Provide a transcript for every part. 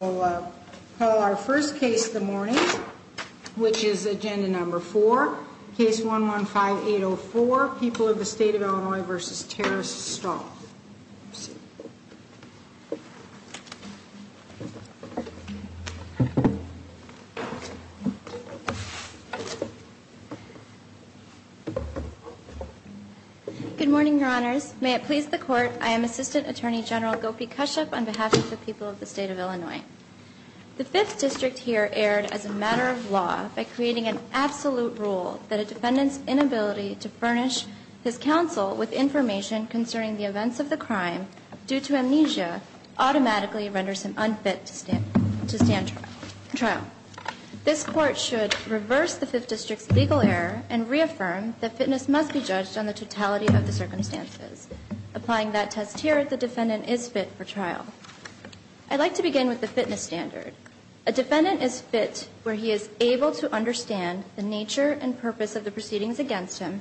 We'll call our first case of the morning, which is Agenda No. 4, Case 115-804, People of the State of Illinois v. Terrace Stahl. Good morning, Your Honors. May it please the Court, I am Assistant Attorney General Gopi Kashyap on behalf of the people of the State of Illinois. The Fifth District here erred as a matter of law by creating an absolute rule that a defendant's inability to furnish his counsel with information concerning the events of the crime due to amnesia automatically renders him unfit to stand trial. This Court should reverse the Fifth District's legal error and reaffirm that fitness must be judged on the totality of the circumstances. Applying that test here, the defendant is fit for trial. I'd like to begin with the fitness standard. A defendant is fit where he is able to understand the nature and purpose of the proceedings against him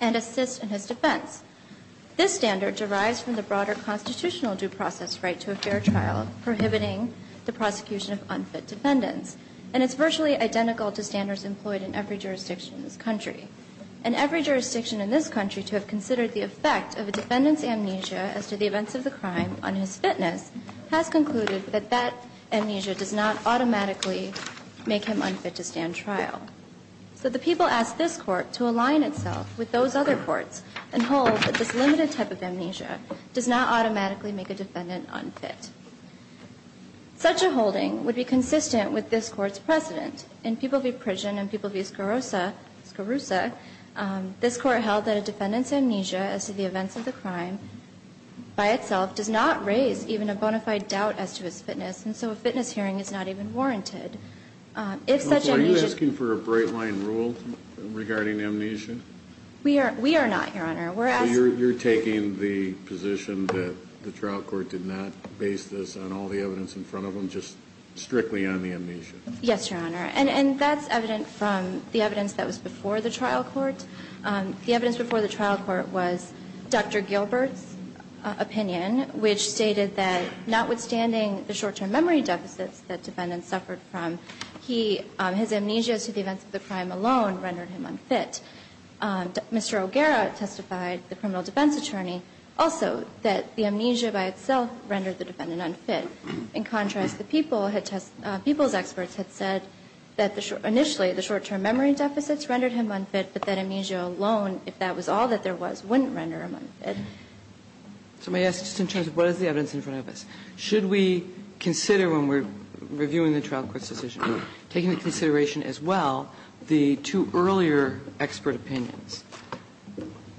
and assist in his defense. This standard derives from the broader constitutional due process right to a fair trial, prohibiting the prosecution of unfit defendants. And it's virtually identical to standards employed in every jurisdiction in this country. And every jurisdiction in this country to have considered the effect of a defendant's amnesia as to the events of the crime on his fitness has concluded that that amnesia does not automatically make him unfit to stand trial. So the people ask this Court to align itself with those other courts and hold that this limited type of amnesia does not automatically make a defendant unfit. Such a holding would be consistent with this Court's precedent. In People v. Pridgen and People v. Scarruzza, this Court held that a defendant's amnesia as to the events of the crime by itself does not raise even a bona fide doubt as to his fitness, and so a fitness hearing is not even warranted. If such amnesia... Are you asking for a bright-line rule regarding amnesia? We are not, Your Honor. We're asking... So you're taking the position that the trial court did not base this on all the evidence in front of them, just strictly on the amnesia? Yes, Your Honor. And that's evident from the evidence that was before the trial court. The evidence before the trial court was Dr. Gilbert's opinion, which stated that notwithstanding the short-term memory deficits that defendants suffered from, his amnesia as to the events of the crime alone rendered him unfit. Mr. O'Gara testified, the criminal defense attorney, also that the amnesia by itself rendered the defendant unfit. In contrast, the People's experts had said that initially the short-term memory deficits rendered him unfit, but that amnesia alone, if that was all that there was, wouldn't render him unfit. So may I ask, just in terms of what is the evidence in front of us, should we consider when we're reviewing the trial court's decision, taking into consideration as well the two earlier expert opinions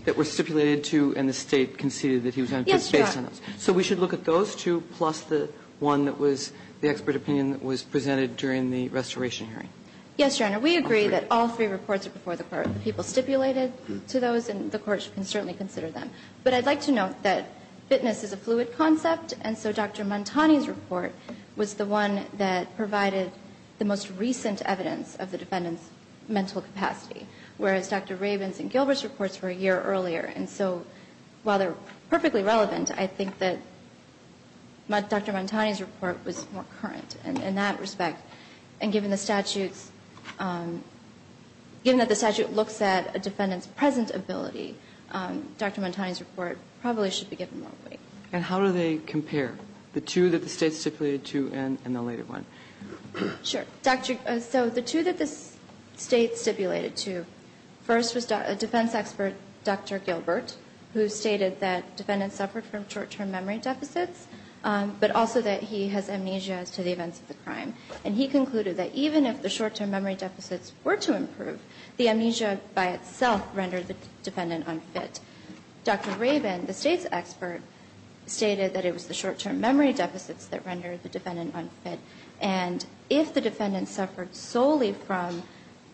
that were stipulated to and the State conceded that he was unfit based on those? Yes, Your Honor. So we should look at those two plus the one that was the expert opinion that was presented during the restoration hearing? Yes, Your Honor. We agree that all three reports are before the court. The people stipulated to those, and the court can certainly consider them. But I'd like to note that fitness is a fluid concept, and so Dr. Montani's report was the one that provided the most recent evidence of the defendant's mental capacity, whereas Dr. Rabin's and Gilbert's reports were a year earlier. And so while they're perfectly relevant, I think that Dr. Montani's report was more current in that respect. And given the statute's – given that the statute looks at a defendant's present ability, Dr. Montani's report probably should be given more weight. And how do they compare, the two that the State stipulated to and the later one? Sure. So the two that the State stipulated to, first was defense expert Dr. Gilbert, who stated that defendants suffered from short-term memory deficits, but also that he has amnesia as to the events of the crime. And he concluded that even if the short-term memory deficits were to improve, the amnesia by itself rendered the defendant unfit. Dr. Rabin, the State's expert, stated that it was the short-term memory deficits that rendered the defendant unfit. And if the defendant suffered solely from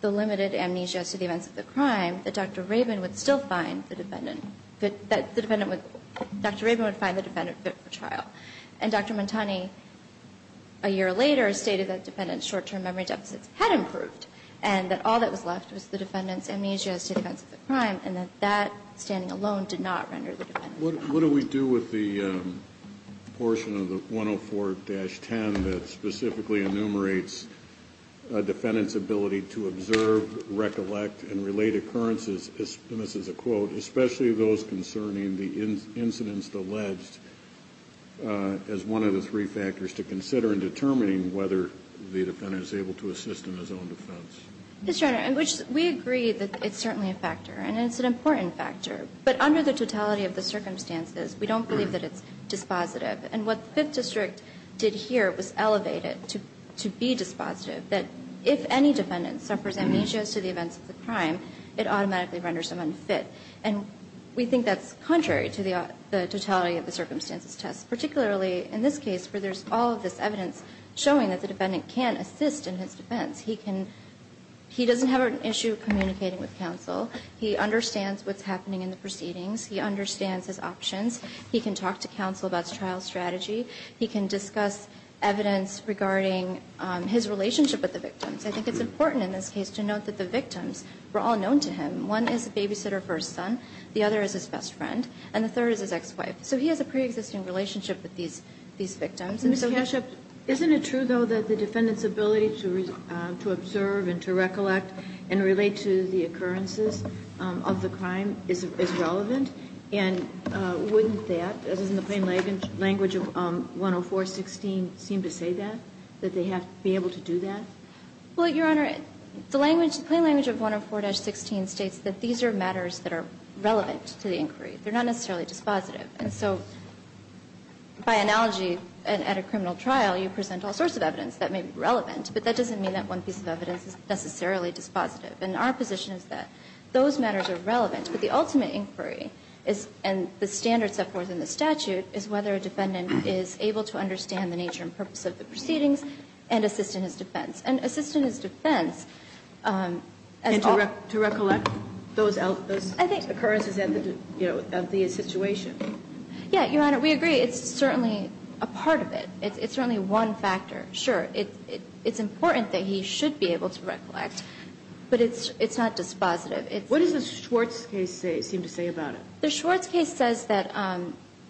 the limited amnesia as to the events of the crime, that Dr. Rabin would still find the defendant – that the defendant would – Dr. Rabin would find the defendant fit for trial. And Dr. Montani, a year later, stated that defendants' short-term memory deficits had improved and that all that was left was the defendant's amnesia as to the events of the crime and that that standing alone did not render the defendant unfit. What do we do with the portion of the 104-10 that specifically enumerates a defendant's ability to observe, recollect, and relate occurrences – and this is a quote – especially those concerning the incidents alleged as one of the three factors to consider in determining whether the defendant is able to assist in his own defense? Yes, Your Honor. We agree that it's certainly a factor, and it's an important factor. But under the totality of the circumstances, we don't believe that it's dispositive. And what the Fifth District did here was elevate it to be dispositive, that if any defendant suffers amnesia as to the events of the crime, it automatically renders them unfit. And we think that's contrary to the totality of the circumstances test, particularly in this case where there's all of this evidence showing that the defendant can assist in his defense. He doesn't have an issue communicating with counsel. He understands what's happening in the proceedings. He understands his options. He can talk to counsel about his trial strategy. He can discuss evidence regarding his relationship with the victims. I think it's important in this case to note that the victims were all known to him. One is the babysitter for his son. The other is his best friend. And the third is his ex-wife. So he has a preexisting relationship with these victims. Ms. Kashub, isn't it true, though, that the defendant's ability to observe and to recollect and relate to the occurrences of the crime is relevant? And wouldn't that, as is in the plain language of 10416, seem to say that, that they have to be able to do that? Well, Your Honor, the language, the plain language of 10416 states that these are matters that are relevant to the inquiry. They're not necessarily dispositive. And so by analogy, at a criminal trial, you present all sorts of evidence that may be relevant, but that doesn't mean that one piece of evidence is necessarily dispositive. And our position is that those matters are relevant, but the ultimate inquiry is, and the standards set forth in the statute, is whether a defendant is able to understand the nature and purpose of the proceedings and assist in his defense. And assist in his defense as all of those occurrences of the situation. Yeah, Your Honor, we agree. It's certainly a part of it. It's certainly one factor. Sure, it's important that he should be able to recollect, but it's not dispositive. What does the Schwartz case seem to say about it? The Schwartz case says that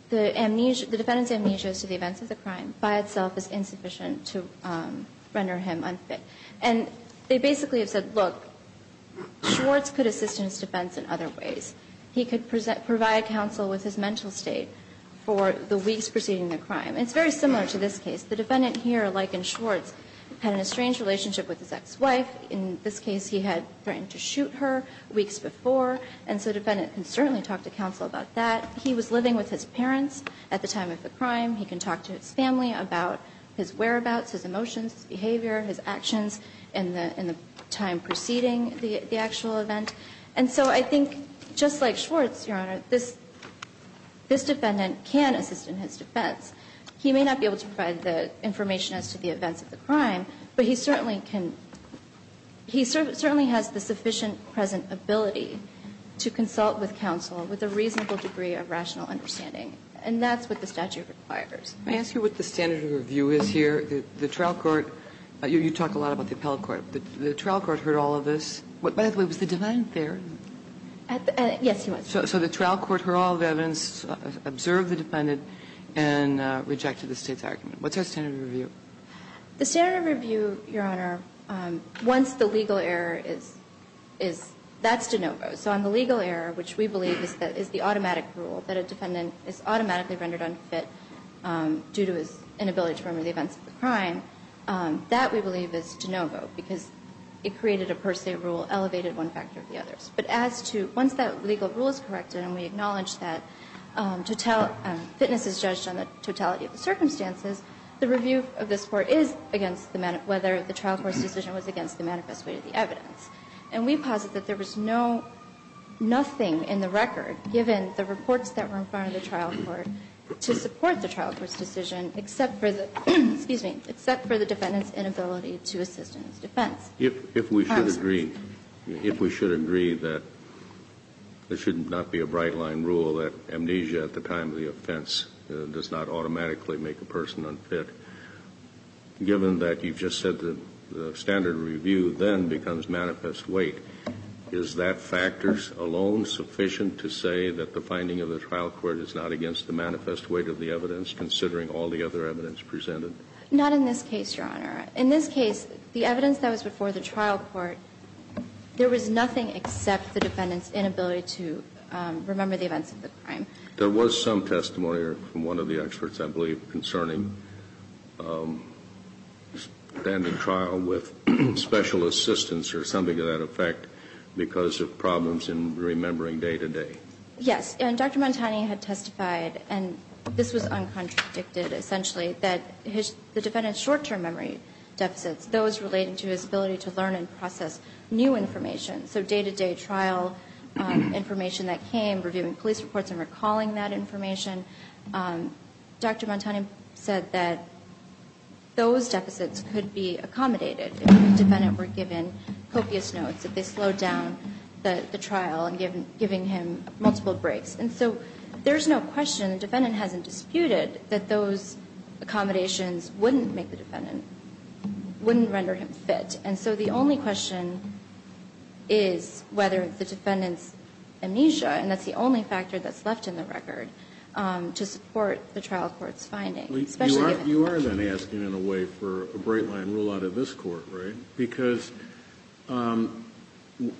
the amnesia, the defendant's amnesia as to the events of the crime by itself is insufficient to render him unfit. And they basically have said, look, Schwartz could assist in his defense in other ways. He could provide counsel with his mental state for the weeks preceding the crime. And it's very similar to this case. The defendant here, like in Schwartz, had a strange relationship with his ex-wife. In this case, he had threatened to shoot her weeks before, and so the defendant can certainly talk to counsel about that. He was living with his parents at the time of the crime. He can talk to his family about his whereabouts, his emotions, his behavior, his actions in the time preceding the actual event. And so I think, just like Schwartz, Your Honor, this defendant can assist in his defense. He may not be able to provide the information as to the events of the crime, but he certainly can he certainly has the sufficient present ability to consult with counsel with a reasonable degree of rational understanding. And that's what the statute requires. Can I ask you what the standard of review is here? The trial court, you talk a lot about the appellate court. The trial court heard all of this. By the way, was the defendant there? Yes, he was. So the trial court heard all the evidence, observed the defendant, and rejected the State's argument. What's our standard of review? The standard of review, Your Honor, once the legal error is, is, that's de novo. So on the legal error, which we believe is the automatic rule, that a defendant is automatically rendered unfit due to his inability to remember the events of the crime, that, we believe, is de novo, because it created a per se rule, elevated one factor or the other. But as to, once that legal rule is corrected and we acknowledge that fitness is judged on the totality of the circumstances, the review of this Court is against whether the trial court's decision was against the manifest way of the evidence. And we posit that there was no, nothing in the record, given the reports that were in front of the trial court, to support the trial court's decision, except for the defendant's inability to assist in his defense. If we should agree, if we should agree that there should not be a bright line rule that amnesia at the time of the offense does not automatically make a person unfit, given that you've just said that the standard review then becomes manifest weight, is that factor alone sufficient to say that the finding of the trial court is not against the manifest weight of the evidence, considering all the other evidence presented? Not in this case, Your Honor. In this case, the evidence that was before the trial court, there was nothing except the defendant's inability to remember the events of the crime. There was some testimony from one of the experts, I believe, concerning standing trial with special assistance or something to that effect because of problems in remembering day-to-day. Yes. And Dr. Montani had testified, and this was uncontradicted, essentially, that the defendant's short-term memory deficits, those relating to his ability to learn and process new information, so day-to-day trial information that came, reviewing police reports and recalling that information, Dr. Montani said that those deficits could be accommodated if the defendant were given copious notes, if they slowed down the trial and giving him multiple breaks. And so there's no question the defendant hasn't disputed that those accommodations wouldn't make the defendant, wouldn't render him fit. And so the only question is whether the defendant's amnesia, and that's the only factor that's left in the record, to support the trial court's finding. You are then asking, in a way, for a bright-line rule out of this Court, right? Because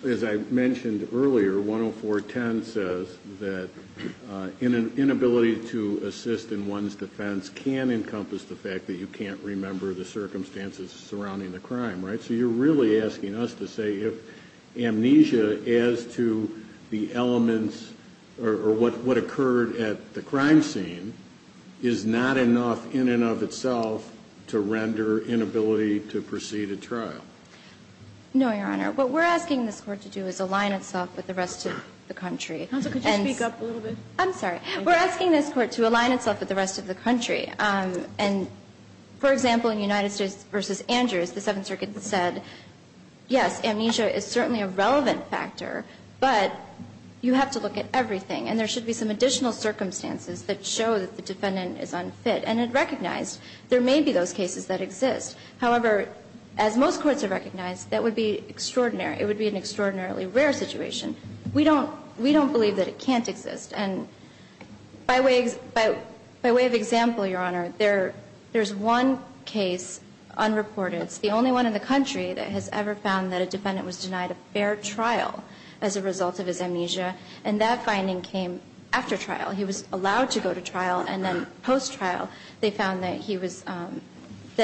as I mentioned earlier, 10410 says that inability to assist in one's defense can encompass the fact that you can't remember the circumstances surrounding the crime, right? So you're really asking us to say if amnesia as to the elements or what occurred at the crime scene is not enough in and of itself to render inability to proceed a trial. No, Your Honor. What we're asking this Court to do is align itself with the rest of the country. Counsel, could you speak up a little bit? I'm sorry. We're asking this Court to align itself with the rest of the country. And for example, in United States v. Andrews, the Seventh Circuit said, yes, amnesia is certainly a relevant factor, but you have to look at everything. And there should be some additional circumstances that show that the defendant is unfit. And it recognized there may be those cases that exist. However, as most courts have recognized, that would be extraordinary. It would be an extraordinarily rare situation. We don't believe that it can't exist. And by way of example, Your Honor, there's one case unreported. It's the only one in the country that has ever found that a defendant was denied a fair trial as a result of his amnesia. And that finding came after trial. He was allowed to go to trial. And then post-trial, they found that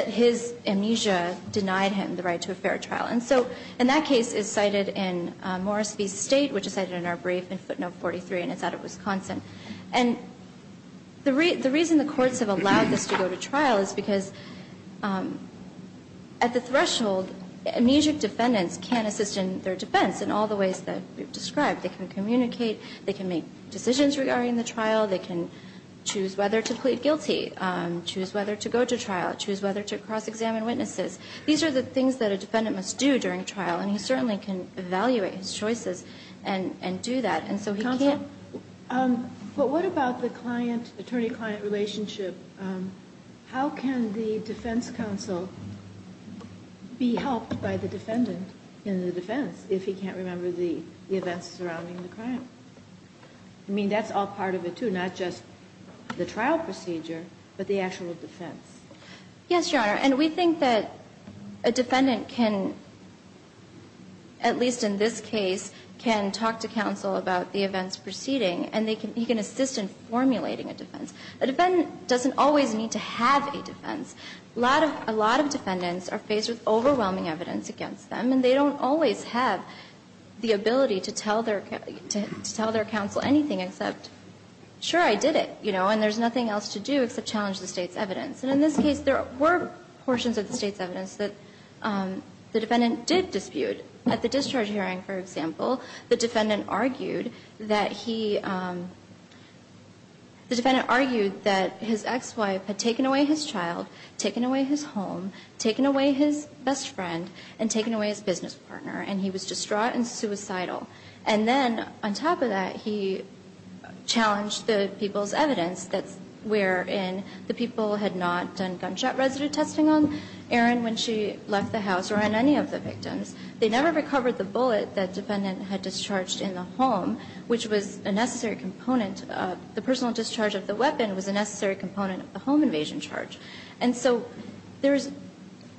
his amnesia denied him the right to a fair trial. And so in that case, it's cited in Morris v. State, which is cited in our brief in footnote 43. And it's out of Wisconsin. And the reason the courts have allowed this to go to trial is because at the threshold, amnesic defendants can assist in their defense in all the ways that we've described. They can communicate. They can make decisions regarding the trial. They can choose whether to plead guilty, choose whether to go to trial, choose whether to cross-examine witnesses. These are the things that a defendant must do during trial. And he certainly can evaluate his choices and do that. Counsel, but what about the client-attorney-client relationship? How can the defense counsel be helped by the defendant in the defense if he can't remember the events surrounding the crime? I mean, that's all part of it, too, not just the trial procedure, but the actual defense. Yes, Your Honor. And we think that a defendant can, at least in this case, can talk to counsel about the events preceding. And he can assist in formulating a defense. A defendant doesn't always need to have a defense. A lot of defendants are faced with overwhelming evidence against them. And they don't always have the ability to tell their counsel anything except, sure, I did it. And there's nothing else to do except challenge the State's evidence. And in this case, there were portions of the State's evidence that the defendant did dispute. At the discharge hearing, for example, the defendant argued that he – the defendant argued that his ex-wife had taken away his child, taken away his home, taken away his best friend, and taken away his business partner. And he was distraught and suicidal. And then on top of that, he challenged the people's evidence wherein the people had not done gunshot residue testing on Erin when she left the house or on any of the victims. They never recovered the bullet that the defendant had discharged in the home, which was a necessary component of – the personal discharge of the weapon was a necessary component of the home invasion charge. And so there's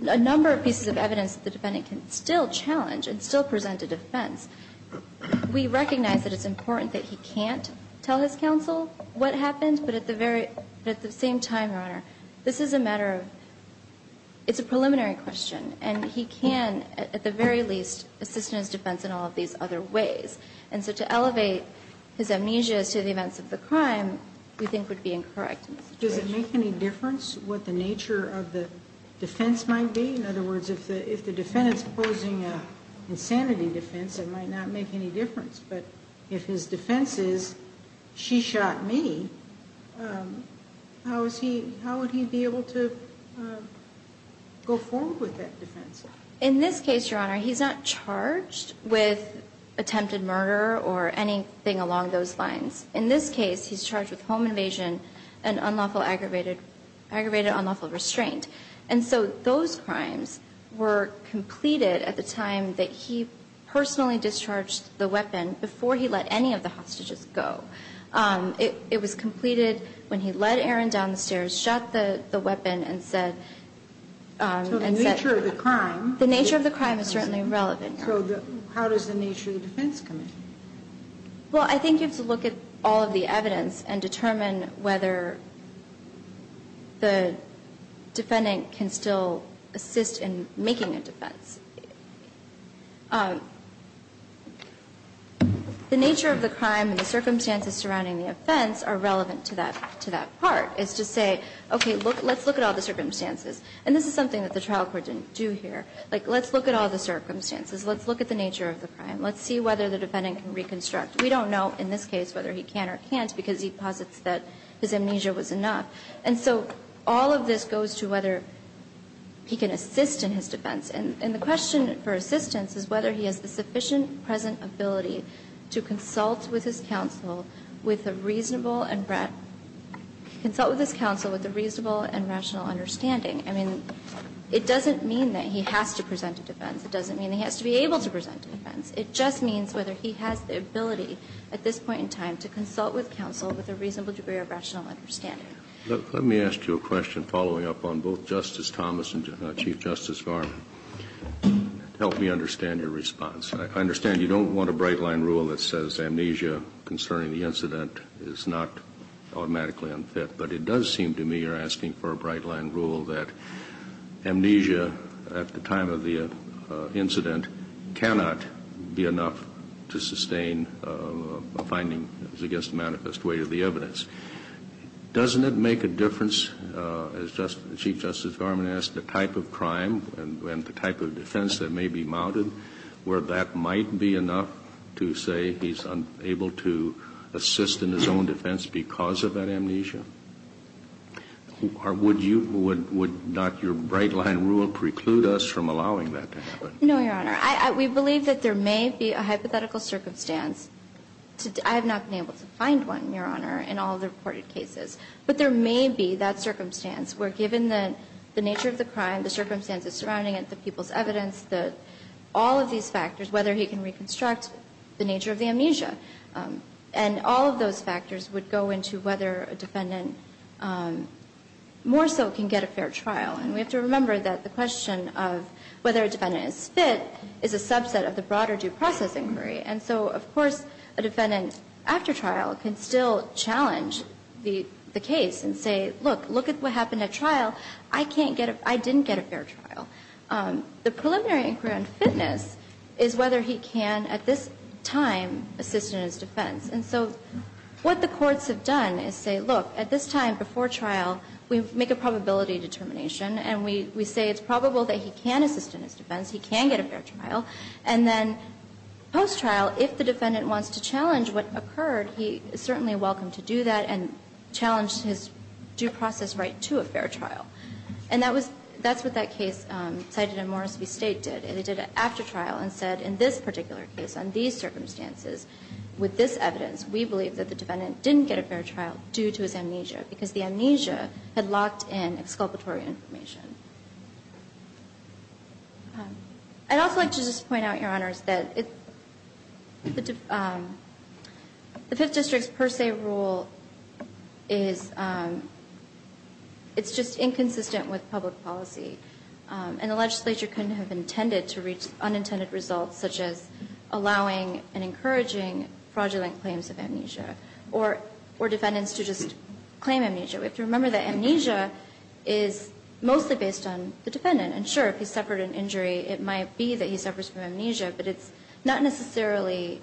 a number of pieces of evidence that the defendant can still challenge and still present a defense. We recognize that it's important that he can't tell his counsel what happened. But at the same time, Your Honor, this is a matter of – it's a preliminary question. And he can, at the very least, assist in his defense in all of these other ways. And so to elevate his amnesia as to the events of the crime we think would be incorrect in this situation. Does it make any difference what the nature of the defense might be? In other words, if the defendant is posing an insanity defense, it might not make any difference. But if his defense is, she shot me, how is he – how would he be able to go forward with that defense? In this case, Your Honor, he's not charged with attempted murder or anything along those lines. In this case, he's charged with home invasion and unlawful aggravated – aggravated unlawful restraint. And so those crimes were completed at the time that he personally discharged the weapon before he let any of the hostages go. It was completed when he led Aaron down the stairs, shot the weapon, and said – So the nature of the crime – The nature of the crime is certainly relevant, Your Honor. So how does the nature of the defense come in? Well, I think you have to look at all of the evidence and determine whether the defendant can still assist in making a defense. The nature of the crime and the circumstances surrounding the offense are relevant to that – to that part, is to say, okay, let's look at all the circumstances. And this is something that the trial court didn't do here. Like, let's look at all the circumstances. Let's look at the nature of the crime. Let's see whether the defendant can reconstruct. We don't know in this case whether he can or can't because he posits that his amnesia was enough. And so all of this goes to whether he can assist in his defense. And the question for assistance is whether he has the sufficient present ability to consult with his counsel with a reasonable and – consult with his counsel with a reasonable and rational understanding. I mean, it doesn't mean that he has to present a defense. It doesn't mean he has to be able to present a defense. It just means whether he has the ability at this point in time to consult with counsel with a reasonable degree of rational understanding. Let me ask you a question following up on both Justice Thomas and Chief Justice Garvin to help me understand your response. I understand you don't want a bright-line rule that says amnesia concerning the incident is not automatically unfit. But it does seem to me you're asking for a bright-line rule that amnesia at the time of the incident cannot be enough to sustain a finding that is against the manifest weight of the evidence. Doesn't it make a difference, as Chief Justice Garvin asked, the type of crime and the type of defense that may be mounted where that might be enough to say he's unable to assist in his own defense because of that amnesia? Or would you – would not your bright-line rule preclude us from allowing that to happen? No, Your Honor. We believe that there may be a hypothetical circumstance. I have not been able to find one, Your Honor, in all the reported cases. But there may be that circumstance where given the nature of the crime, the circumstances surrounding it, the people's evidence, all of these factors, whether he can reconstruct the nature of the amnesia. And all of those factors would go into whether a defendant more so can get a fair trial. And we have to remember that the question of whether a defendant is fit is a subset of the broader due process inquiry. And so, of course, a defendant after trial can still challenge the case and say, look, look at what happened at trial. I can't get a – I didn't get a fair trial. The preliminary inquiry on fitness is whether he can at this time assist in his defense. And so what the courts have done is say, look, at this time before trial, we make a probability determination and we say it's probable that he can assist in his defense, he can get a fair trial. And then post-trial, if the defendant wants to challenge what occurred, he is certainly welcome to do that and challenge his due process right to a fair trial. And that was – that's what that case cited in Morris v. State did. It did it after trial and said, in this particular case, on these circumstances, with this evidence, we believe that the defendant didn't get a fair trial due to his amnesia, because the amnesia had locked in exculpatory information. I'd also like to just point out, Your Honors, that the Fifth District's per se rule is – it's just inconsistent with public policy. And the legislature couldn't have intended to reach unintended results such as allowing and encouraging fraudulent claims of amnesia or defendants to just claim amnesia. We have to remember that amnesia is mostly based on the defendant. And sure, if he suffered an injury, it might be that he suffers from amnesia, but it's not necessarily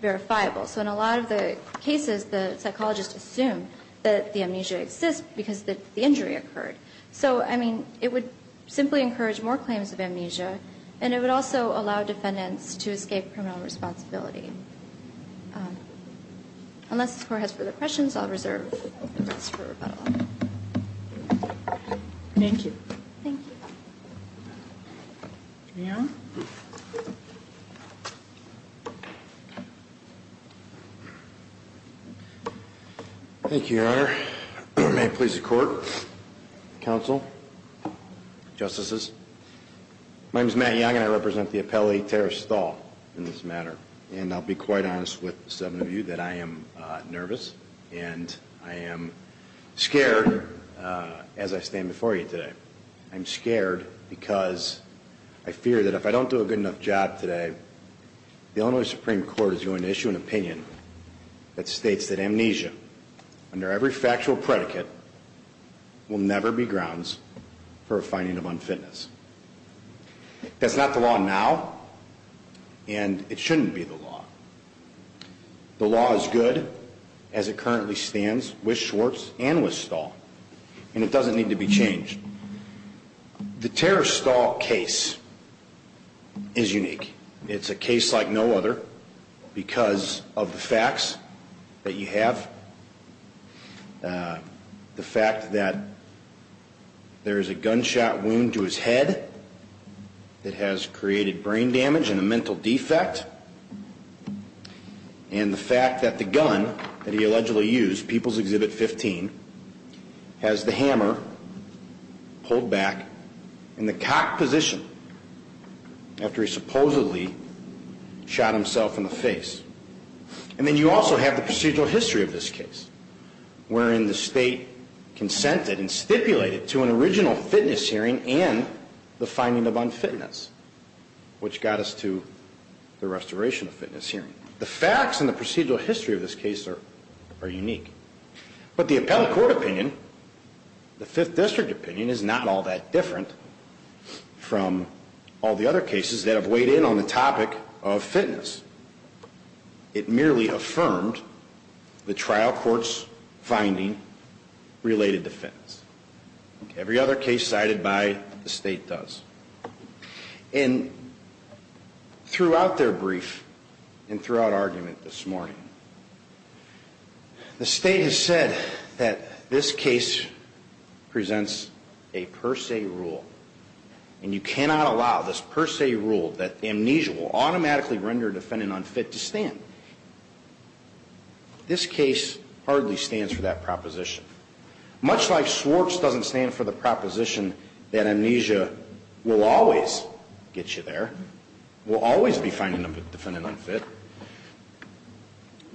verifiable. So in a lot of the cases, the psychologist assumed that the amnesia exists because the injury occurred. So, I mean, it would simply encourage more claims of amnesia, and it would also allow defendants to escape criminal responsibility. Unless the Court has further questions, I'll reserve the rest for rebuttal. Thank you. Thank you. Young? Thank you, Your Honor. May it please the Court, Counsel, Justices. My name is Matt Young, and I represent the appellee, Terrace Thal, in this matter. And I'll be quite honest with the seven of you that I am nervous, and I am scared, as I stand before you today. I'm scared because I fear that if I don't do a good enough job today, the Illinois Supreme Court is going to issue an opinion that states that amnesia, under every factual predicate, will never be grounds for a finding of unfitness. That's not the law now, and it shouldn't be the law. The law is good, as it currently stands, with Schwartz and with Thal, and it doesn't need to be changed. The Terrace Thal case is unique. It's a case like no other because of the facts that you have, the fact that there is a head that has created brain damage and a mental defect, and the fact that the gun that he allegedly used, People's Exhibit 15, has the hammer pulled back in the cock position after he supposedly shot himself in the face. And then you also have the procedural history of this case, wherein the state consented and stipulated to an original fitness hearing and the finding of unfitness, which got us to the restoration of fitness hearing. The facts and the procedural history of this case are unique. But the appellate court opinion, the Fifth District opinion, is not all that different from all the other cases that have weighed in on the topic of fitness. It merely affirmed the trial court's finding related to fitness. Every other case cited by the state does. And throughout their brief and throughout argument this morning, the state has said that this case presents a per se rule, and you cannot allow this per se rule that amnesia will automatically render a defendant unfit to stand. This case hardly stands for that proposition. Much like Swartz doesn't stand for the proposition that amnesia will always get you there, will always be finding a defendant unfit,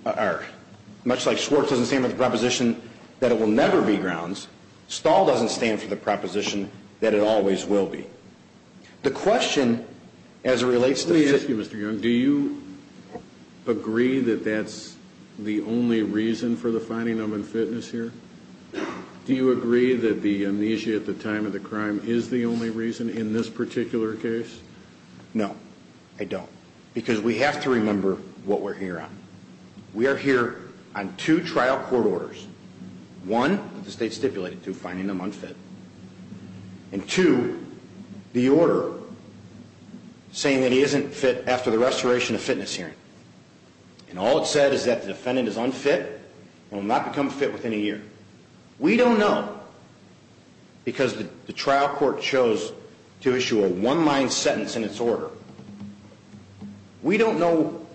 or much like Swartz doesn't stand for the proposition that it will never be grounds, Stahl doesn't stand for the proposition that it always will be. The question as it relates to... Let me ask you, Mr. Young, do you agree that that's the only reason for the finding of unfitness here? Do you agree that the amnesia at the time of the crime is the only reason in this particular case? No, I don't. Because we have to remember what we're here on. We are here on two trial court orders. One that the state stipulated to finding them unfit. And two, the order saying that he isn't fit after the restoration of fitness hearing. And all it said is that the defendant is unfit and will not become fit within a year. We don't know because the trial court chose to issue a one-line sentence in its order. We don't know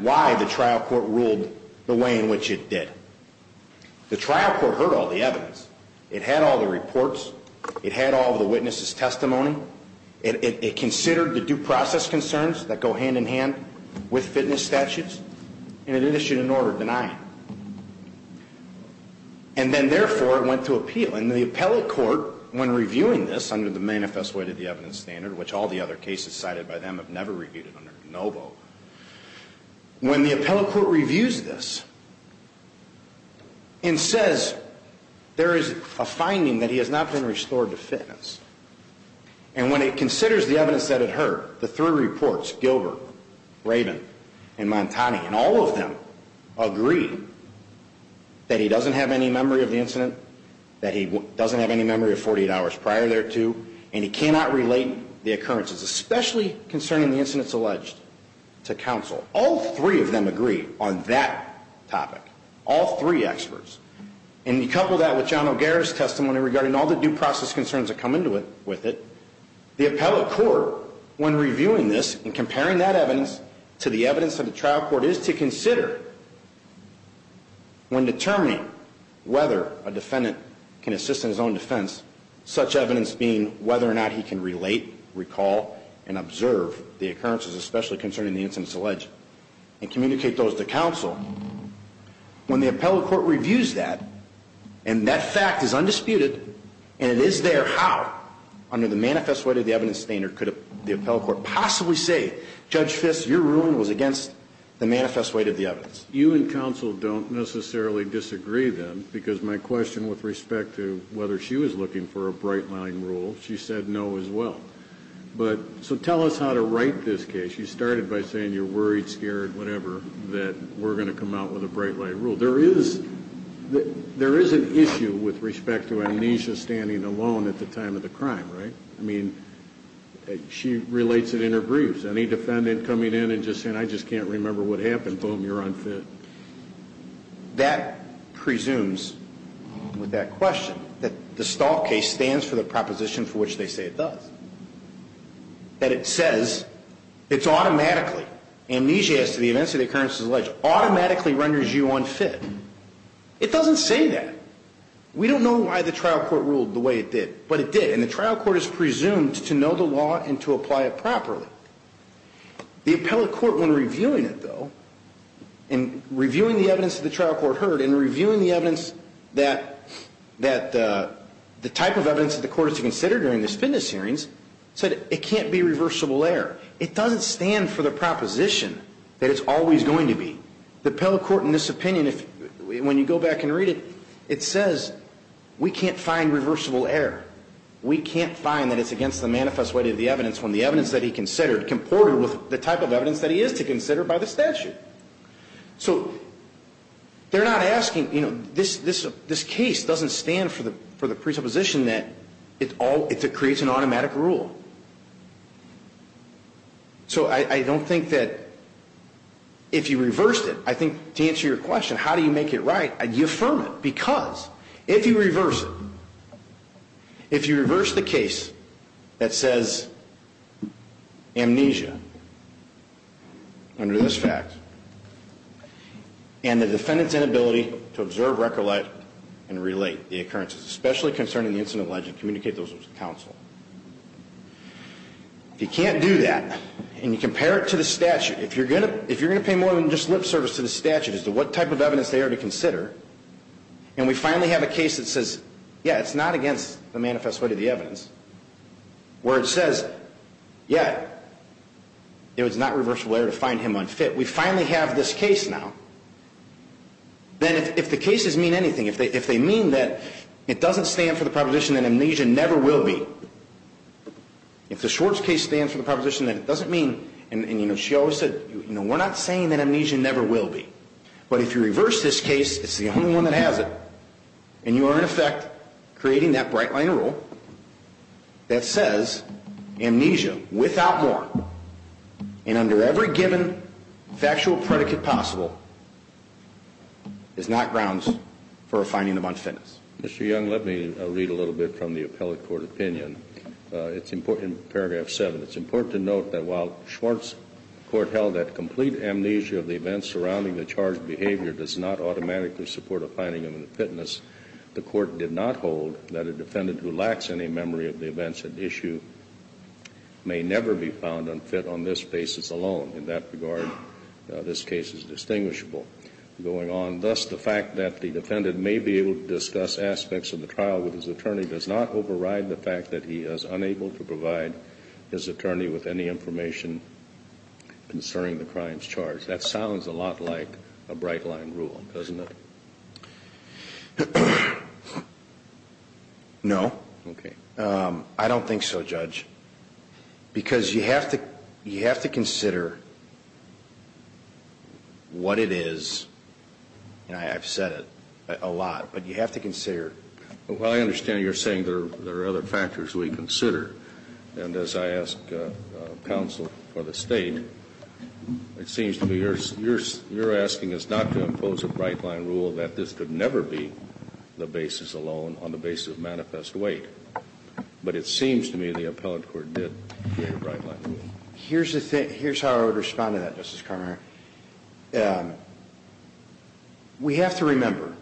why the trial court ruled the way in which it did. The trial court heard all the evidence. It had all the reports. It had all the witnesses' testimony. It considered the due process concerns that go hand-in-hand with fitness statutes. And it issued an order denying it. And then, therefore, it went to appeal. And the appellate court, when reviewing this under the Manifest Way to the Evidence Standard, which all the other cases cited by them have never reviewed it under GNOVO, when the appellate court reviews this and says there is a finding that he has not been restored to fitness, and when it considers the evidence that it heard, the three reports, Gilbert, Raven, and Montani, and all of them agree that he doesn't have any memory of the incident, that he doesn't have any memory of 48 hours prior thereto, and he cannot relate the occurrences, especially concerning the incidents alleged to counsel. All three of them agree on that topic, all three experts. And you couple that with John O'Gara's testimony regarding all the due process concerns that come with it. The appellate court, when reviewing this and comparing that evidence to the evidence of the trial court, is to consider when determining whether a defendant can assist in his own defense, such evidence being whether or not he can relate, recall, and observe the occurrences, especially concerning the incidents alleged, and communicate those to counsel. When the appellate court reviews that, and that fact is undisputed, and it is there, how, under the Manifest Way to the Evidence Standard, could the appellate court possibly say, Judge Fisk, your ruling was against the Manifest Way to the Evidence? You and counsel don't necessarily disagree, then, because my question with respect to whether she was looking for a bright-line rule, she said no as well. So tell us how to write this case. You started by saying you're worried, scared, whatever, that we're going to come out with a bright-line rule. There is an issue with respect to Amnesia standing alone at the time of the crime, right? I mean, she relates it in her briefs. Any defendant coming in and just saying, I just can't remember what happened, boom, you're unfit. That presumes, with that question, that the Stahl case stands for the proposition for which they say it does. That it says it's automatically, amnesia as to the events or the occurrences alleged, automatically renders you unfit. It doesn't say that. We don't know why the trial court ruled the way it did, but it did. And the trial court is presumed to know the law and to apply it properly. The appellate court, when reviewing it, though, and reviewing the evidence that the trial court heard and reviewing the evidence that the type of evidence that the court is to consider during this fitness hearings, said it can't be reversible error. It doesn't stand for the proposition that it's always going to be. The appellate court, in this opinion, when you go back and read it, it says we can't find reversible error. We can't find that it's against the manifest way of the evidence when the evidence that he considered comported with the type of evidence that he is to consider by the statute. So they're not asking, you know, this case doesn't stand for the presupposition that it creates an automatic rule. So I don't think that if you reversed it, I think to answer your question, how do you make it right, you affirm it. Because if you reverse it, if you reverse the case that says amnesia under this fact, and the defendant's inability to observe, recollect, and relate the occurrences, especially concerning the incident alleged, communicate those with counsel. If you can't do that, and you compare it to the statute, if you're going to pay more than just lip service to the statute as to what type of evidence they are to consider, and we finally have a case that says, yeah, it's not against the manifest way of the evidence, where it says, yeah, it was not reversible error to find him unfit. We finally have this case now. Then if the cases mean anything, if they mean that it doesn't stand for the proposition that amnesia never will be, if the Schwartz case stands for the proposition that it doesn't mean, and, you know, she always said, you know, we're not saying that amnesia never will be. But if you reverse this case, it's the only one that has it, and you are, in effect, creating that bright line rule that says amnesia without warrant, and under every given factual predicate possible, is not grounds for a finding of unfitness. Mr. Young, let me read a little bit from the appellate court opinion. It's important, in paragraph 7, it's important to note that while Schwartz court held that complete amnesia of the events surrounding the charged behavior does not automatically support a finding of unfitness, the court did not hold that a defendant who lacks any memory of the events at issue may never be found unfit on this basis alone. In that regard, this case is distinguishable. Going on, thus, the fact that the defendant may be able to discuss aspects of the trial with his attorney does not override the fact that he is unable to provide his attorney with any information concerning the crime's charge. That sounds a lot like a bright line rule, doesn't it? No. Okay. I don't think so, Judge, because you have to consider what it is. I've said it a lot, but you have to consider. Well, I understand you're saying there are other factors we consider. And as I ask counsel for the State, it seems to me you're asking us not to impose a bright line rule so that this could never be the basis alone on the basis of manifest weight. But it seems to me the appellate court did create a bright line rule. Here's how I would respond to that, Justice Carmona. We have to remember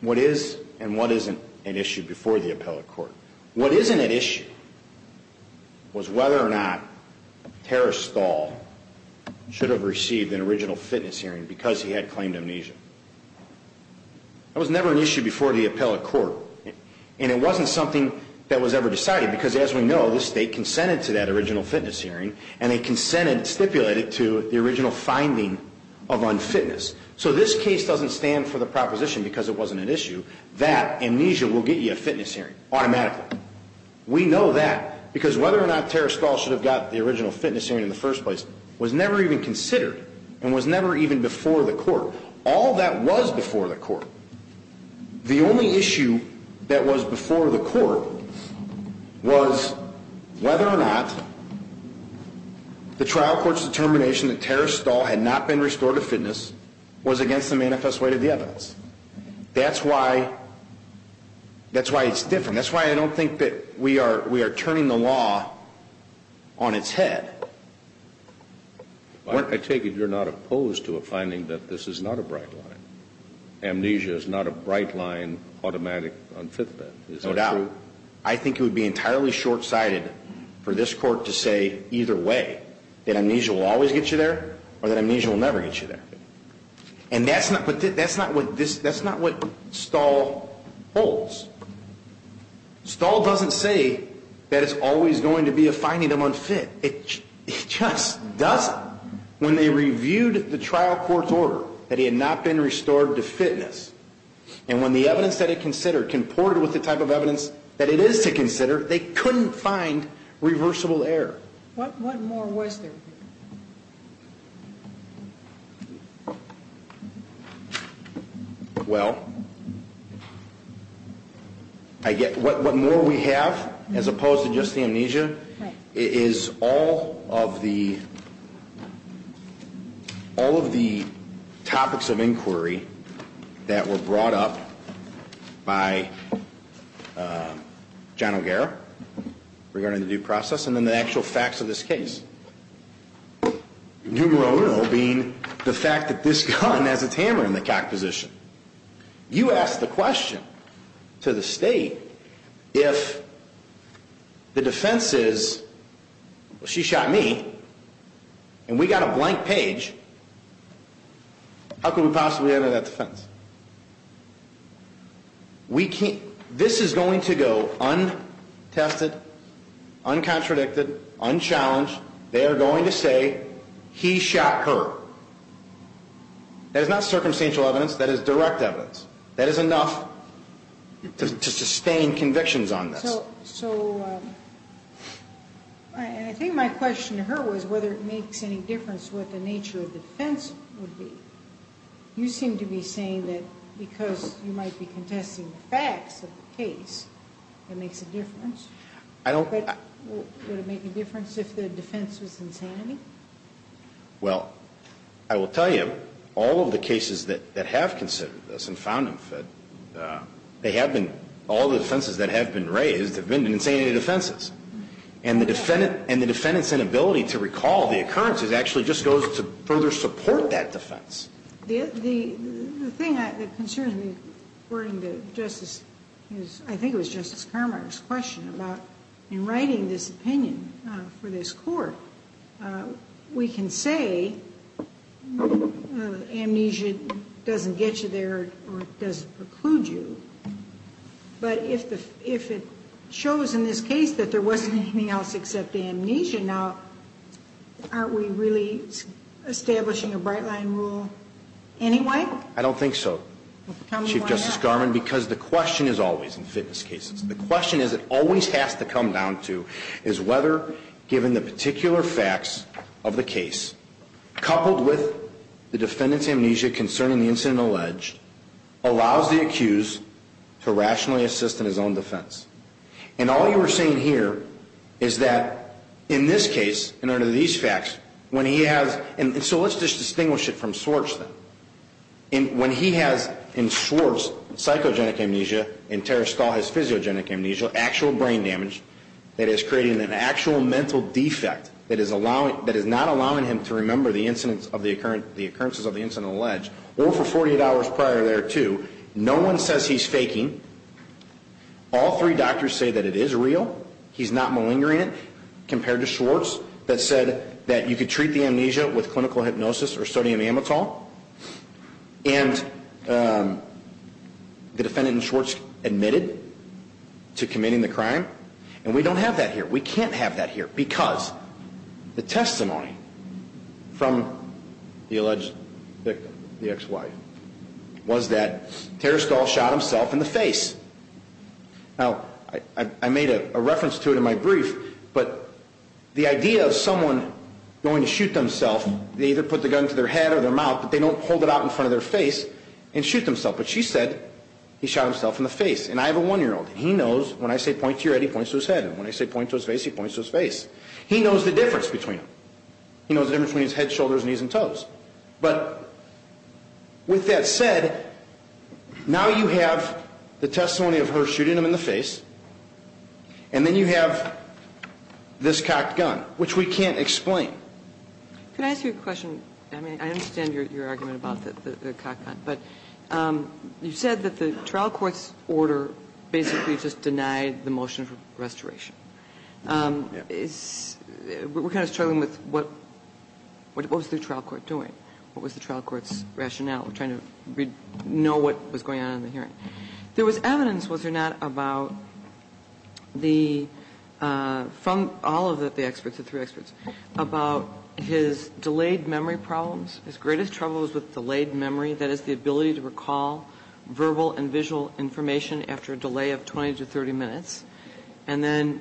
what is and what isn't at issue before the appellate court. What isn't at issue was whether or not Terrace Stahl should have received an original fitness hearing because he had claimed amnesia. That was never an issue before the appellate court, and it wasn't something that was ever decided because, as we know, the State consented to that original fitness hearing, and they consented, stipulated, to the original finding of unfitness. So this case doesn't stand for the proposition, because it wasn't an issue, that amnesia will get you a fitness hearing automatically. We know that because whether or not Terrace Stahl should have got the original fitness hearing in the first place was never even considered and was never even before the court. All that was before the court. The only issue that was before the court was whether or not the trial court's determination that Terrace Stahl had not been restored to fitness was against the manifest weight of the evidence. That's why it's different. And that's why I don't think that we are turning the law on its head. I take it you're not opposed to a finding that this is not a bright line. Amnesia is not a bright line automatic unfitness. No doubt. I think it would be entirely short-sighted for this court to say either way, that amnesia will always get you there or that amnesia will never get you there. And that's not what Stahl holds. Stahl doesn't say that it's always going to be a finding of unfit. It just doesn't. When they reviewed the trial court's order that he had not been restored to fitness, and when the evidence that it considered comported with the type of evidence that it is to consider, they couldn't find reversible error. What more was there? Well, what more we have, as opposed to just the amnesia, is all of the topics of inquiry that were brought up by John O'Gara regarding the due process and then the actual facts of this case, numero uno being the fact that this gun has its hammer in the cock position. You ask the question to the state, if the defense is, well, she shot me and we got a blank page, how could we possibly enter that defense? This is going to go untested, uncontradicted, unchallenged. They are going to say he shot her. That is not circumstantial evidence. That is direct evidence. That is enough to sustain convictions on this. So I think my question to her was whether it makes any difference what the nature of the defense would be. You seem to be saying that because you might be contesting the facts of the case, it makes a difference. I don't Would it make a difference if the defense was insanity? Well, I will tell you, all of the cases that have considered this and found them fit, they have been, all the defenses that have been raised have been insanity defenses. And the defendant's inability to recall the occurrences actually just goes to further support that defense. The thing that concerns me, according to Justice, I think it was Justice Carmichael's question, about in writing this opinion for this Court, we can say amnesia doesn't get you there or doesn't preclude you. But if it shows in this case that there wasn't anything else except amnesia, now aren't we really establishing a bright-line rule anyway? I don't think so, Chief Justice Garmon, because the question is always in fitness cases, the question is it always has to come down to is whether, given the particular facts of the case, coupled with the defendant's amnesia concerning the incident alleged, allows the accused to rationally assist in his own defense. And all you are saying here is that in this case, in order to these facts, when he has, and so let's just distinguish it from Swartz then. When he has, in Swartz, psychogenic amnesia and Tara Stahl has physiogenic amnesia, actual brain damage that is creating an actual mental defect that is not allowing him to remember the occurrences of the incident alleged, or for 48 hours prior there too, no one says he's faking. All three doctors say that it is real, he's not malingering it compared to Swartz that said that you could treat the amnesia with clinical hypnosis or sodium amytal, and the defendant in Swartz admitted to committing the crime. And we don't have that here. We can't have that here because the testimony from the alleged victim, the ex-wife, was that Tara Stahl shot himself in the face. Now, I made a reference to it in my brief, but the idea of someone going to shoot themselves, they either put the gun to their head or their mouth, but they don't hold it out in front of their face and shoot themselves. But she said he shot himself in the face, and I have a one-year-old, and he knows when I say point to your head, he points to his head, and when I say point to his face, he points to his face. He knows the difference between them. But with that said, now you have the testimony of her shooting him in the face, and then you have this cocked gun, which we can't explain. Can I ask you a question? I mean, I understand your argument about the cocked gun, but you said that the trial court's order basically just denied the motion for restoration. We're kind of struggling with what was the trial court doing? What was the trial court's rationale? We're trying to know what was going on in the hearing. There was evidence, was there not, about the, from all of the experts, the three experts, about his delayed memory problems. His greatest trouble was with delayed memory, that is the ability to recall verbal and visual information after a delay of 20 to 30 minutes. And then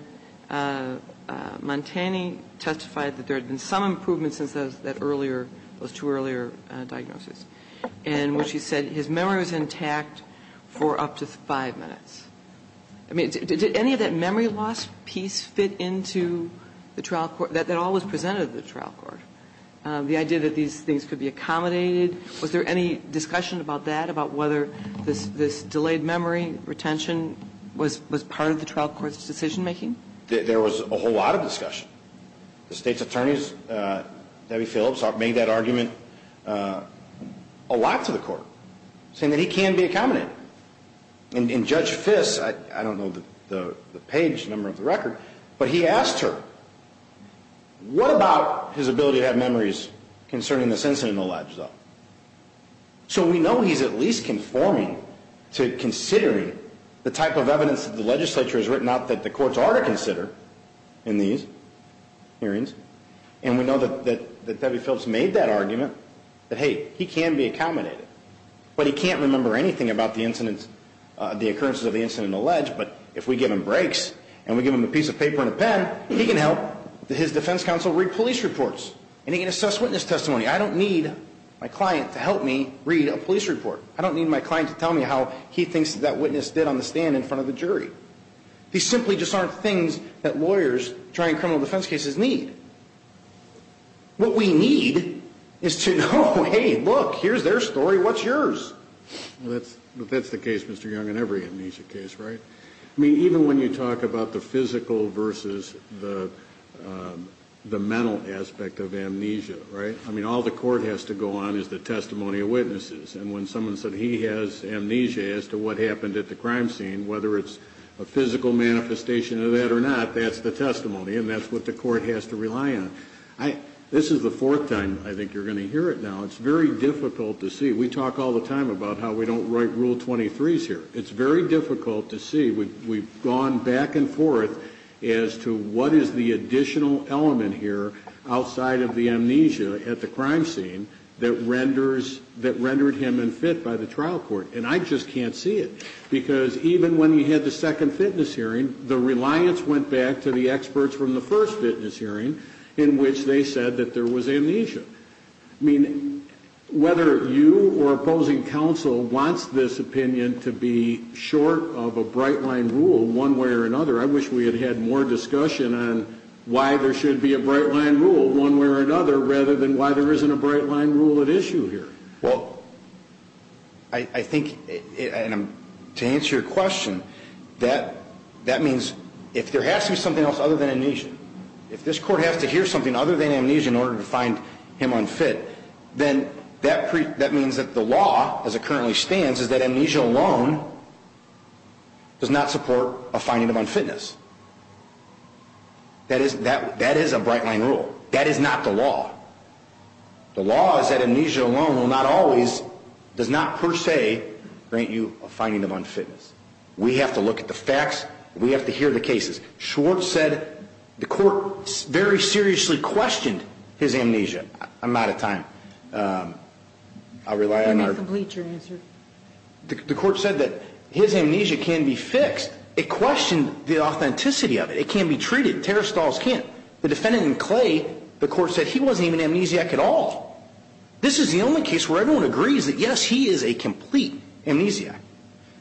Montani testified that there had been some improvement since that earlier – those two earlier diagnoses. And what she said, his memory was intact for up to five minutes. I mean, did any of that memory loss piece fit into the trial court, that all was presented to the trial court? The idea that these things could be accommodated, was there any discussion about that, about whether this delayed memory retention was part of the trial court's decision making? There was a whole lot of discussion. The state's attorneys, Debbie Phillips, made that argument a lot to the court, saying that he can be accommodated. And Judge Fiss, I don't know the page number of the record, but he asked her, what about his ability to have memories concerning this incident alleged, though? So we know he's at least conforming to considering the type of evidence that the legislature has written out that the courts are to consider in these hearings. And we know that Debbie Phillips made that argument, that hey, he can be accommodated. But he can't remember anything about the occurrence of the incident alleged, but if we give him breaks, and we give him a piece of paper and a pen, he can help his defense counsel read police reports. And he can assess witness testimony. I don't need my client to help me read a police report. I don't need my client to tell me how he thinks that witness did on the stand in front of the jury. These simply just aren't things that lawyers trying criminal defense cases need. What we need is to know, hey, look, here's their story, what's yours? That's the case, Mr. Young, in every amnesia case, right? I mean, even when you talk about the physical versus the mental aspect of amnesia, right? I mean, all the court has to go on is the testimony of witnesses. And when someone said he has amnesia as to what happened at the crime scene, whether it's a physical manifestation of that or not, that's the testimony, and that's what the court has to rely on. This is the fourth time I think you're going to hear it now. It's very difficult to see. We talk all the time about how we don't write Rule 23s here. It's very difficult to see. We've gone back and forth as to what is the additional element here outside of the amnesia at the crime scene that rendered him unfit by the trial court. And I just can't see it because even when he had the second fitness hearing, the reliance went back to the experts from the first fitness hearing in which they said that there was amnesia. I mean, whether you or opposing counsel wants this opinion to be short of a bright-line rule one way or another, I wish we had had more discussion on why there should be a bright-line rule one way or another rather than why there isn't a bright-line rule at issue here. Well, I think to answer your question, that means if there has to be something else other than amnesia, if this court has to hear something other than amnesia in order to find him unfit, then that means that the law as it currently stands is that amnesia alone does not support a finding of unfitness. That is a bright-line rule. That is not the law. The law is that amnesia alone will not always, does not per se, grant you a finding of unfitness. We have to look at the facts. We have to hear the cases. Schwartz said the court very seriously questioned his amnesia. I'm out of time. I'll rely on our... Let me complete your answer. The court said that his amnesia can be fixed. It questioned the authenticity of it. It can be treated. Terror stalls can't. The defendant in Clay, the court said he wasn't even amnesiac at all. This is the only case where everyone agrees that, yes, he is a complete amnesiac.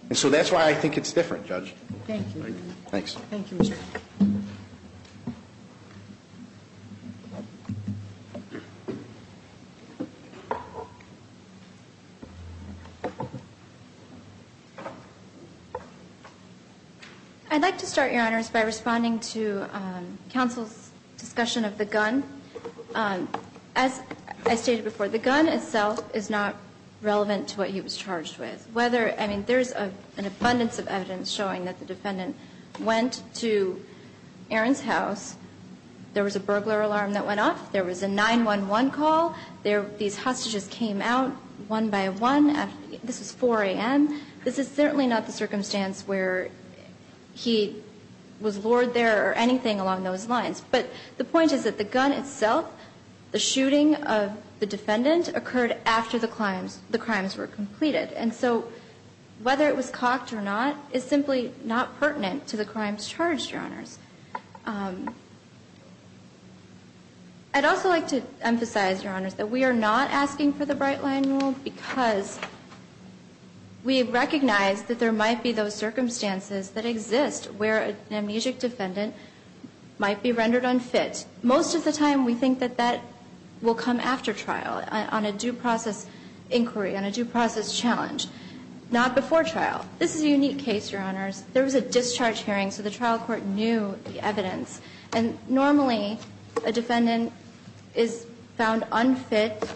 And so that's why I think it's different, Judge. Thank you. Thanks. Thank you, Mr. Chief. I'd like to start, Your Honors, by responding to counsel's discussion of the gun. As I stated before, the gun itself is not relevant to what he was charged with. There's an abundance of evidence showing that the defendant went to Aaron's house. There was a burglar alarm that went off. There was a 911 call. These hostages came out one by one. This was 4 a.m. This is certainly not the circumstance where he was lured there or anything along those lines. But the point is that the gun itself, the shooting of the defendant, occurred after the crimes were completed. And so whether it was cocked or not is simply not pertinent to the crimes charged, Your Honors. I'd also like to emphasize, Your Honors, that we are not asking for the bright line rule because we recognize that there might be those circumstances that exist where an amnesiac defendant might be rendered unfit. Most of the time we think that that will come after trial, on a due process inquiry, on a due process challenge. Not before trial. This is a unique case, Your Honors. There was a discharge hearing, so the trial court knew the evidence. And normally, a defendant is found unfit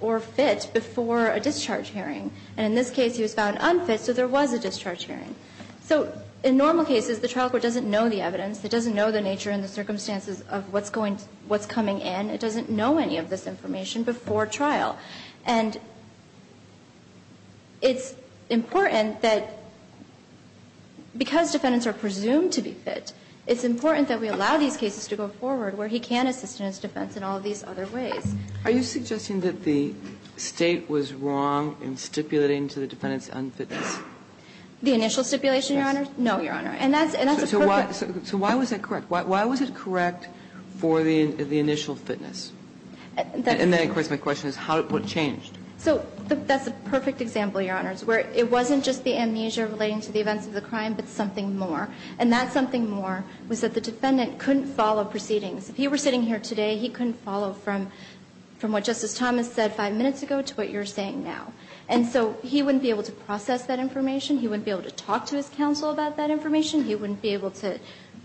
or fit before a discharge hearing. And in this case, he was found unfit, so there was a discharge hearing. So in normal cases, the trial court doesn't know the evidence. It doesn't know the nature and the circumstances of what's coming in. It doesn't know any of this information before trial. And it's important that because defendants are presumed to be fit, it's important that we allow these cases to go forward where he can assist in his defense in all of these other ways. Are you suggesting that the State was wrong in stipulating to the defendants unfitness? The initial stipulation, Your Honors? Yes. No, Your Honor. And that's a perfect question. So why was that correct? Why was it correct for the initial fitness? And then, of course, my question is, what changed? So that's a perfect example, Your Honors, where it wasn't just the amnesia relating to the events of the crime, but something more. And that something more was that the defendant couldn't follow proceedings. If he were sitting here today, he couldn't follow from what Justice Thomas said five minutes ago to what you're saying now. And so he wouldn't be able to process that information. He wouldn't be able to talk to his counsel about that information. He wouldn't be able to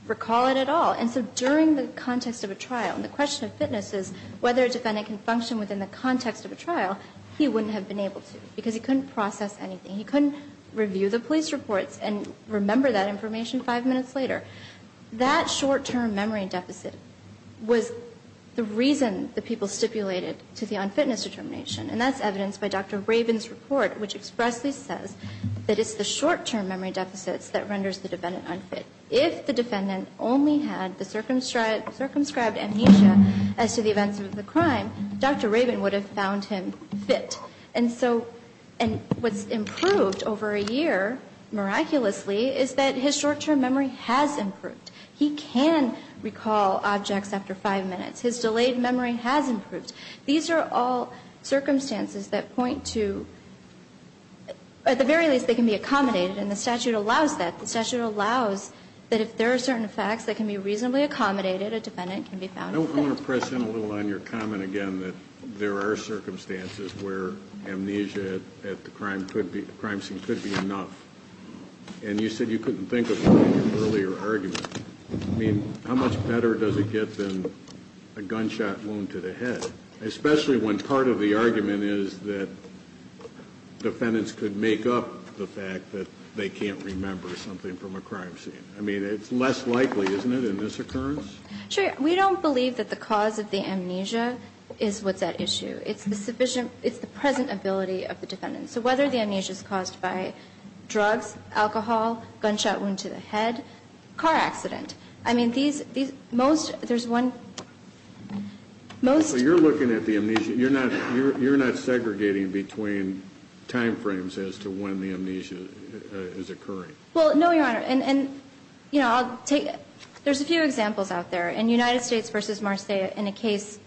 recall it at all. And so during the context of a trial, and the question of fitness is whether a defendant can function within the context of a trial, he wouldn't have been able to because he couldn't process anything. He couldn't review the police reports and remember that information five minutes later. That short-term memory deficit was the reason the people stipulated to the unfitness determination. And that's evidenced by Dr. Rabin's report, which expressly says that it's the short-term memory deficits that renders the defendant unfit. If the defendant only had the circumscribed amnesia as to the events of the crime, Dr. Rabin would have found him fit. And so what's improved over a year, miraculously, is that his short-term memory has improved. He can recall objects after five minutes. His delayed memory has improved. These are all circumstances that point to at the very least they can be accommodated and the statute allows that. The statute allows that if there are certain facts that can be reasonably accommodated, a defendant can be found to be fit. I want to press in a little on your comment again that there are circumstances where amnesia at the crime scene could be enough. And you said you couldn't think of an earlier argument. I mean, how much better does it get than a gunshot wound to the head, especially when part of the argument is that defendants could make up the fact that they can't remember something from a crime scene? I mean, it's less likely, isn't it, in this occurrence? Sure. We don't believe that the cause of the amnesia is what's at issue. It's the present ability of the defendant. So whether the amnesia is caused by drugs, alcohol, gunshot wound to the head, car accident. I mean, there's one most. So you're looking at the amnesia. You're not segregating between time frames as to when the amnesia is occurring. Well, no, Your Honor. And, you know, I'll take it. There's a few examples out there. In United States v. Marseille, in a case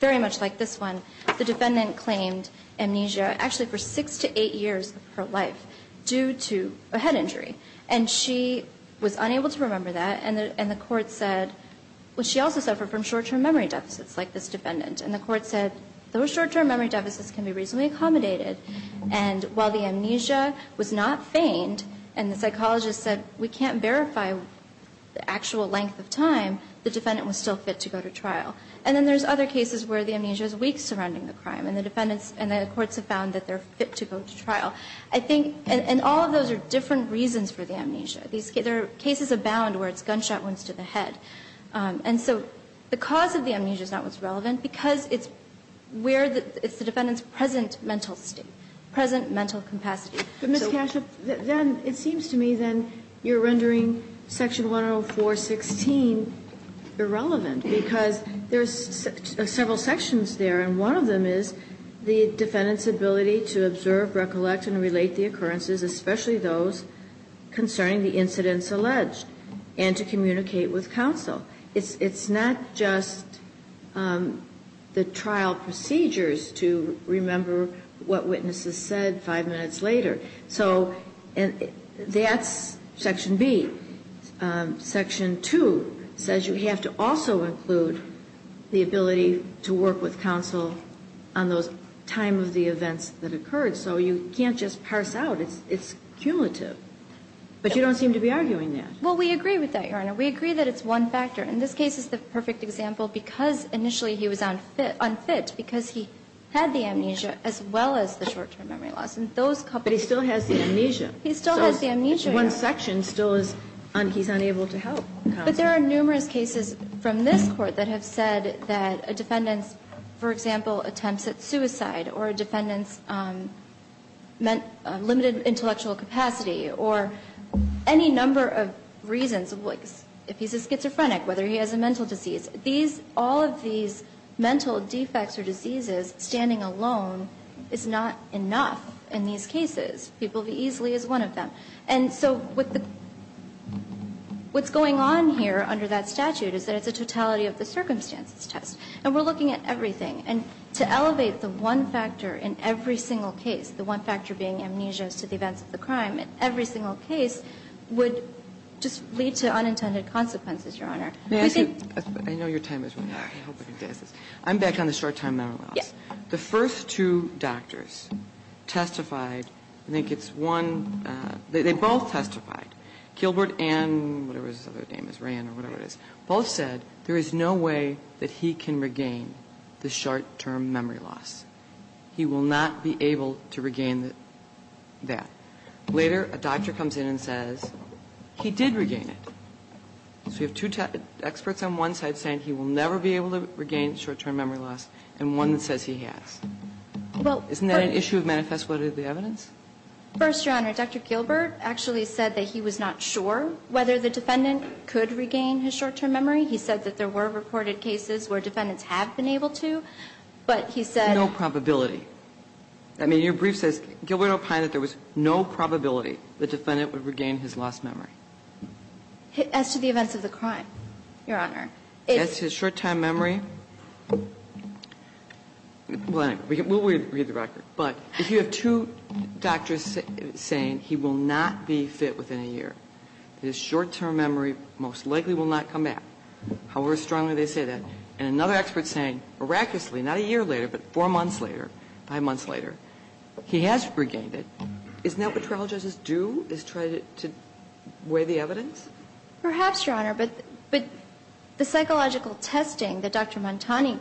very much like this one, the defendant claimed amnesia actually for six to eight years of her life due to a head injury. And she was unable to remember that. And the court said she also suffered from short-term memory deficits like this defendant. And the court said, those short-term memory deficits can be reasonably accommodated. And while the amnesia was not feigned, and the psychologist said, we can't verify the actual length of time, the defendant was still fit to go to trial. And then there's other cases where the amnesia is weak surrounding the crime, and the defendants and the courts have found that they're fit to go to trial. I think, and all of those are different reasons for the amnesia. These cases abound where it's gunshot wounds to the head. And so the cause of the amnesia is not what's relevant, because it's where the defendant's present mental state, present mental capacity. Kagan, it seems to me then you're rendering section 104.16 irrelevant, because there's several sections there, and one of them is the defendant's ability to observe, recollect, and relate the occurrences, especially those concerning the incidents alleged, and to communicate with counsel. It's not just the trial procedures to remember what witnesses said five minutes later. So that's section B. Section 2 says you have to also include the ability to work with counsel on those time of the events that occurred. So you can't just parse out. It's cumulative. But you don't seem to be arguing that. Well, we agree with that, Your Honor. We agree that it's one factor. In this case, it's the perfect example because initially he was unfit, because he had the amnesia as well as the short-term memory loss. And those couples. But he still has the amnesia. He still has the amnesia. So one section still is, he's unable to help counsel. But there are numerous cases from this Court that have said that a defendant's, for example, attempts at suicide or a defendant's limited intellectual capacity or any number of reasons. If he's a schizophrenic, whether he has a mental disease. All of these mental defects or diseases standing alone is not enough in these cases. It will be easily as one of them. And so what's going on here under that statute is that it's a totality of the circumstances test. And we're looking at everything. And to elevate the one factor in every single case, the one factor being amnesia as to the events of the crime in every single case would just lead to unintended consequences, Your Honor. I think. I know your time is running out. I hope I can get this. I'm back on the short-term memory loss. The first two doctors testified. I think it's one. They both testified. Kilbert and whatever his other name is, Rand or whatever it is, both said there is no way that he can regain the short-term memory loss. He will not be able to regain that. Later, a doctor comes in and says he did regain it. So you have two experts on one side saying he will never be able to regain short-term memory loss and one that says he has. Isn't that an issue of manifest what of the evidence? First, Your Honor, Dr. Gilbert actually said that he was not sure whether the defendant could regain his short-term memory. He said that there were reported cases where defendants have been able to. But he said no probability. I mean, your brief says Gilbert opined that there was no probability the defendant would regain his lost memory. As to the events of the crime, Your Honor, it's his short-term memory. We'll read the record. But if you have two doctors saying he will not be fit within a year, his short-term memory most likely will not come back, however strongly they say that, and another expert saying, miraculously, not a year later, but four months later, five months later, he has regained it, isn't that what trial judges do, is try to weigh the evidence? Perhaps, Your Honor, but the psychological testing that Dr. Montani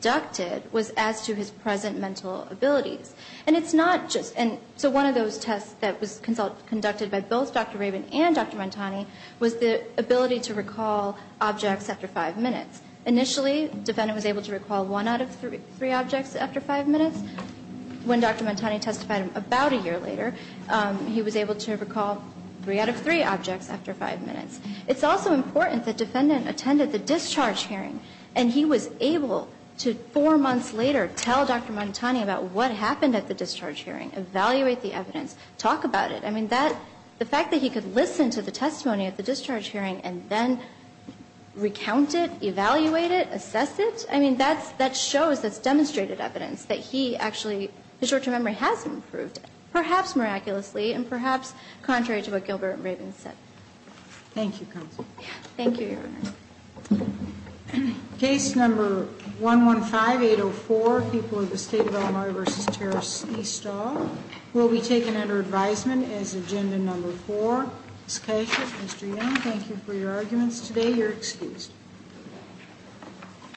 conducted was as to his present mental abilities. And it's not just one of those tests that was conducted by both Dr. Rabin and Dr. It was the ability to recall objects after five minutes. Initially, defendant was able to recall one out of three objects after five minutes. When Dr. Montani testified about a year later, he was able to recall three out of three objects after five minutes. It's also important that defendant attended the discharge hearing, and he was able to, four months later, tell Dr. Montani about what happened at the discharge hearing, evaluate the evidence, talk about it. I mean, the fact that he could listen to the testimony at the discharge hearing and then recount it, evaluate it, assess it, I mean, that shows, that's demonstrated evidence that he actually, his short-term memory has improved, perhaps miraculously, and perhaps contrary to what Gilbert and Rabin said. Thank you, counsel. Thank you, Your Honor. Case number 115804, People of the State of Illinois v. Terrace Eastall, will be taken under advisement as agenda number four. Ms. Kasich, Mr. Young, thank you for your arguments today. You're excused.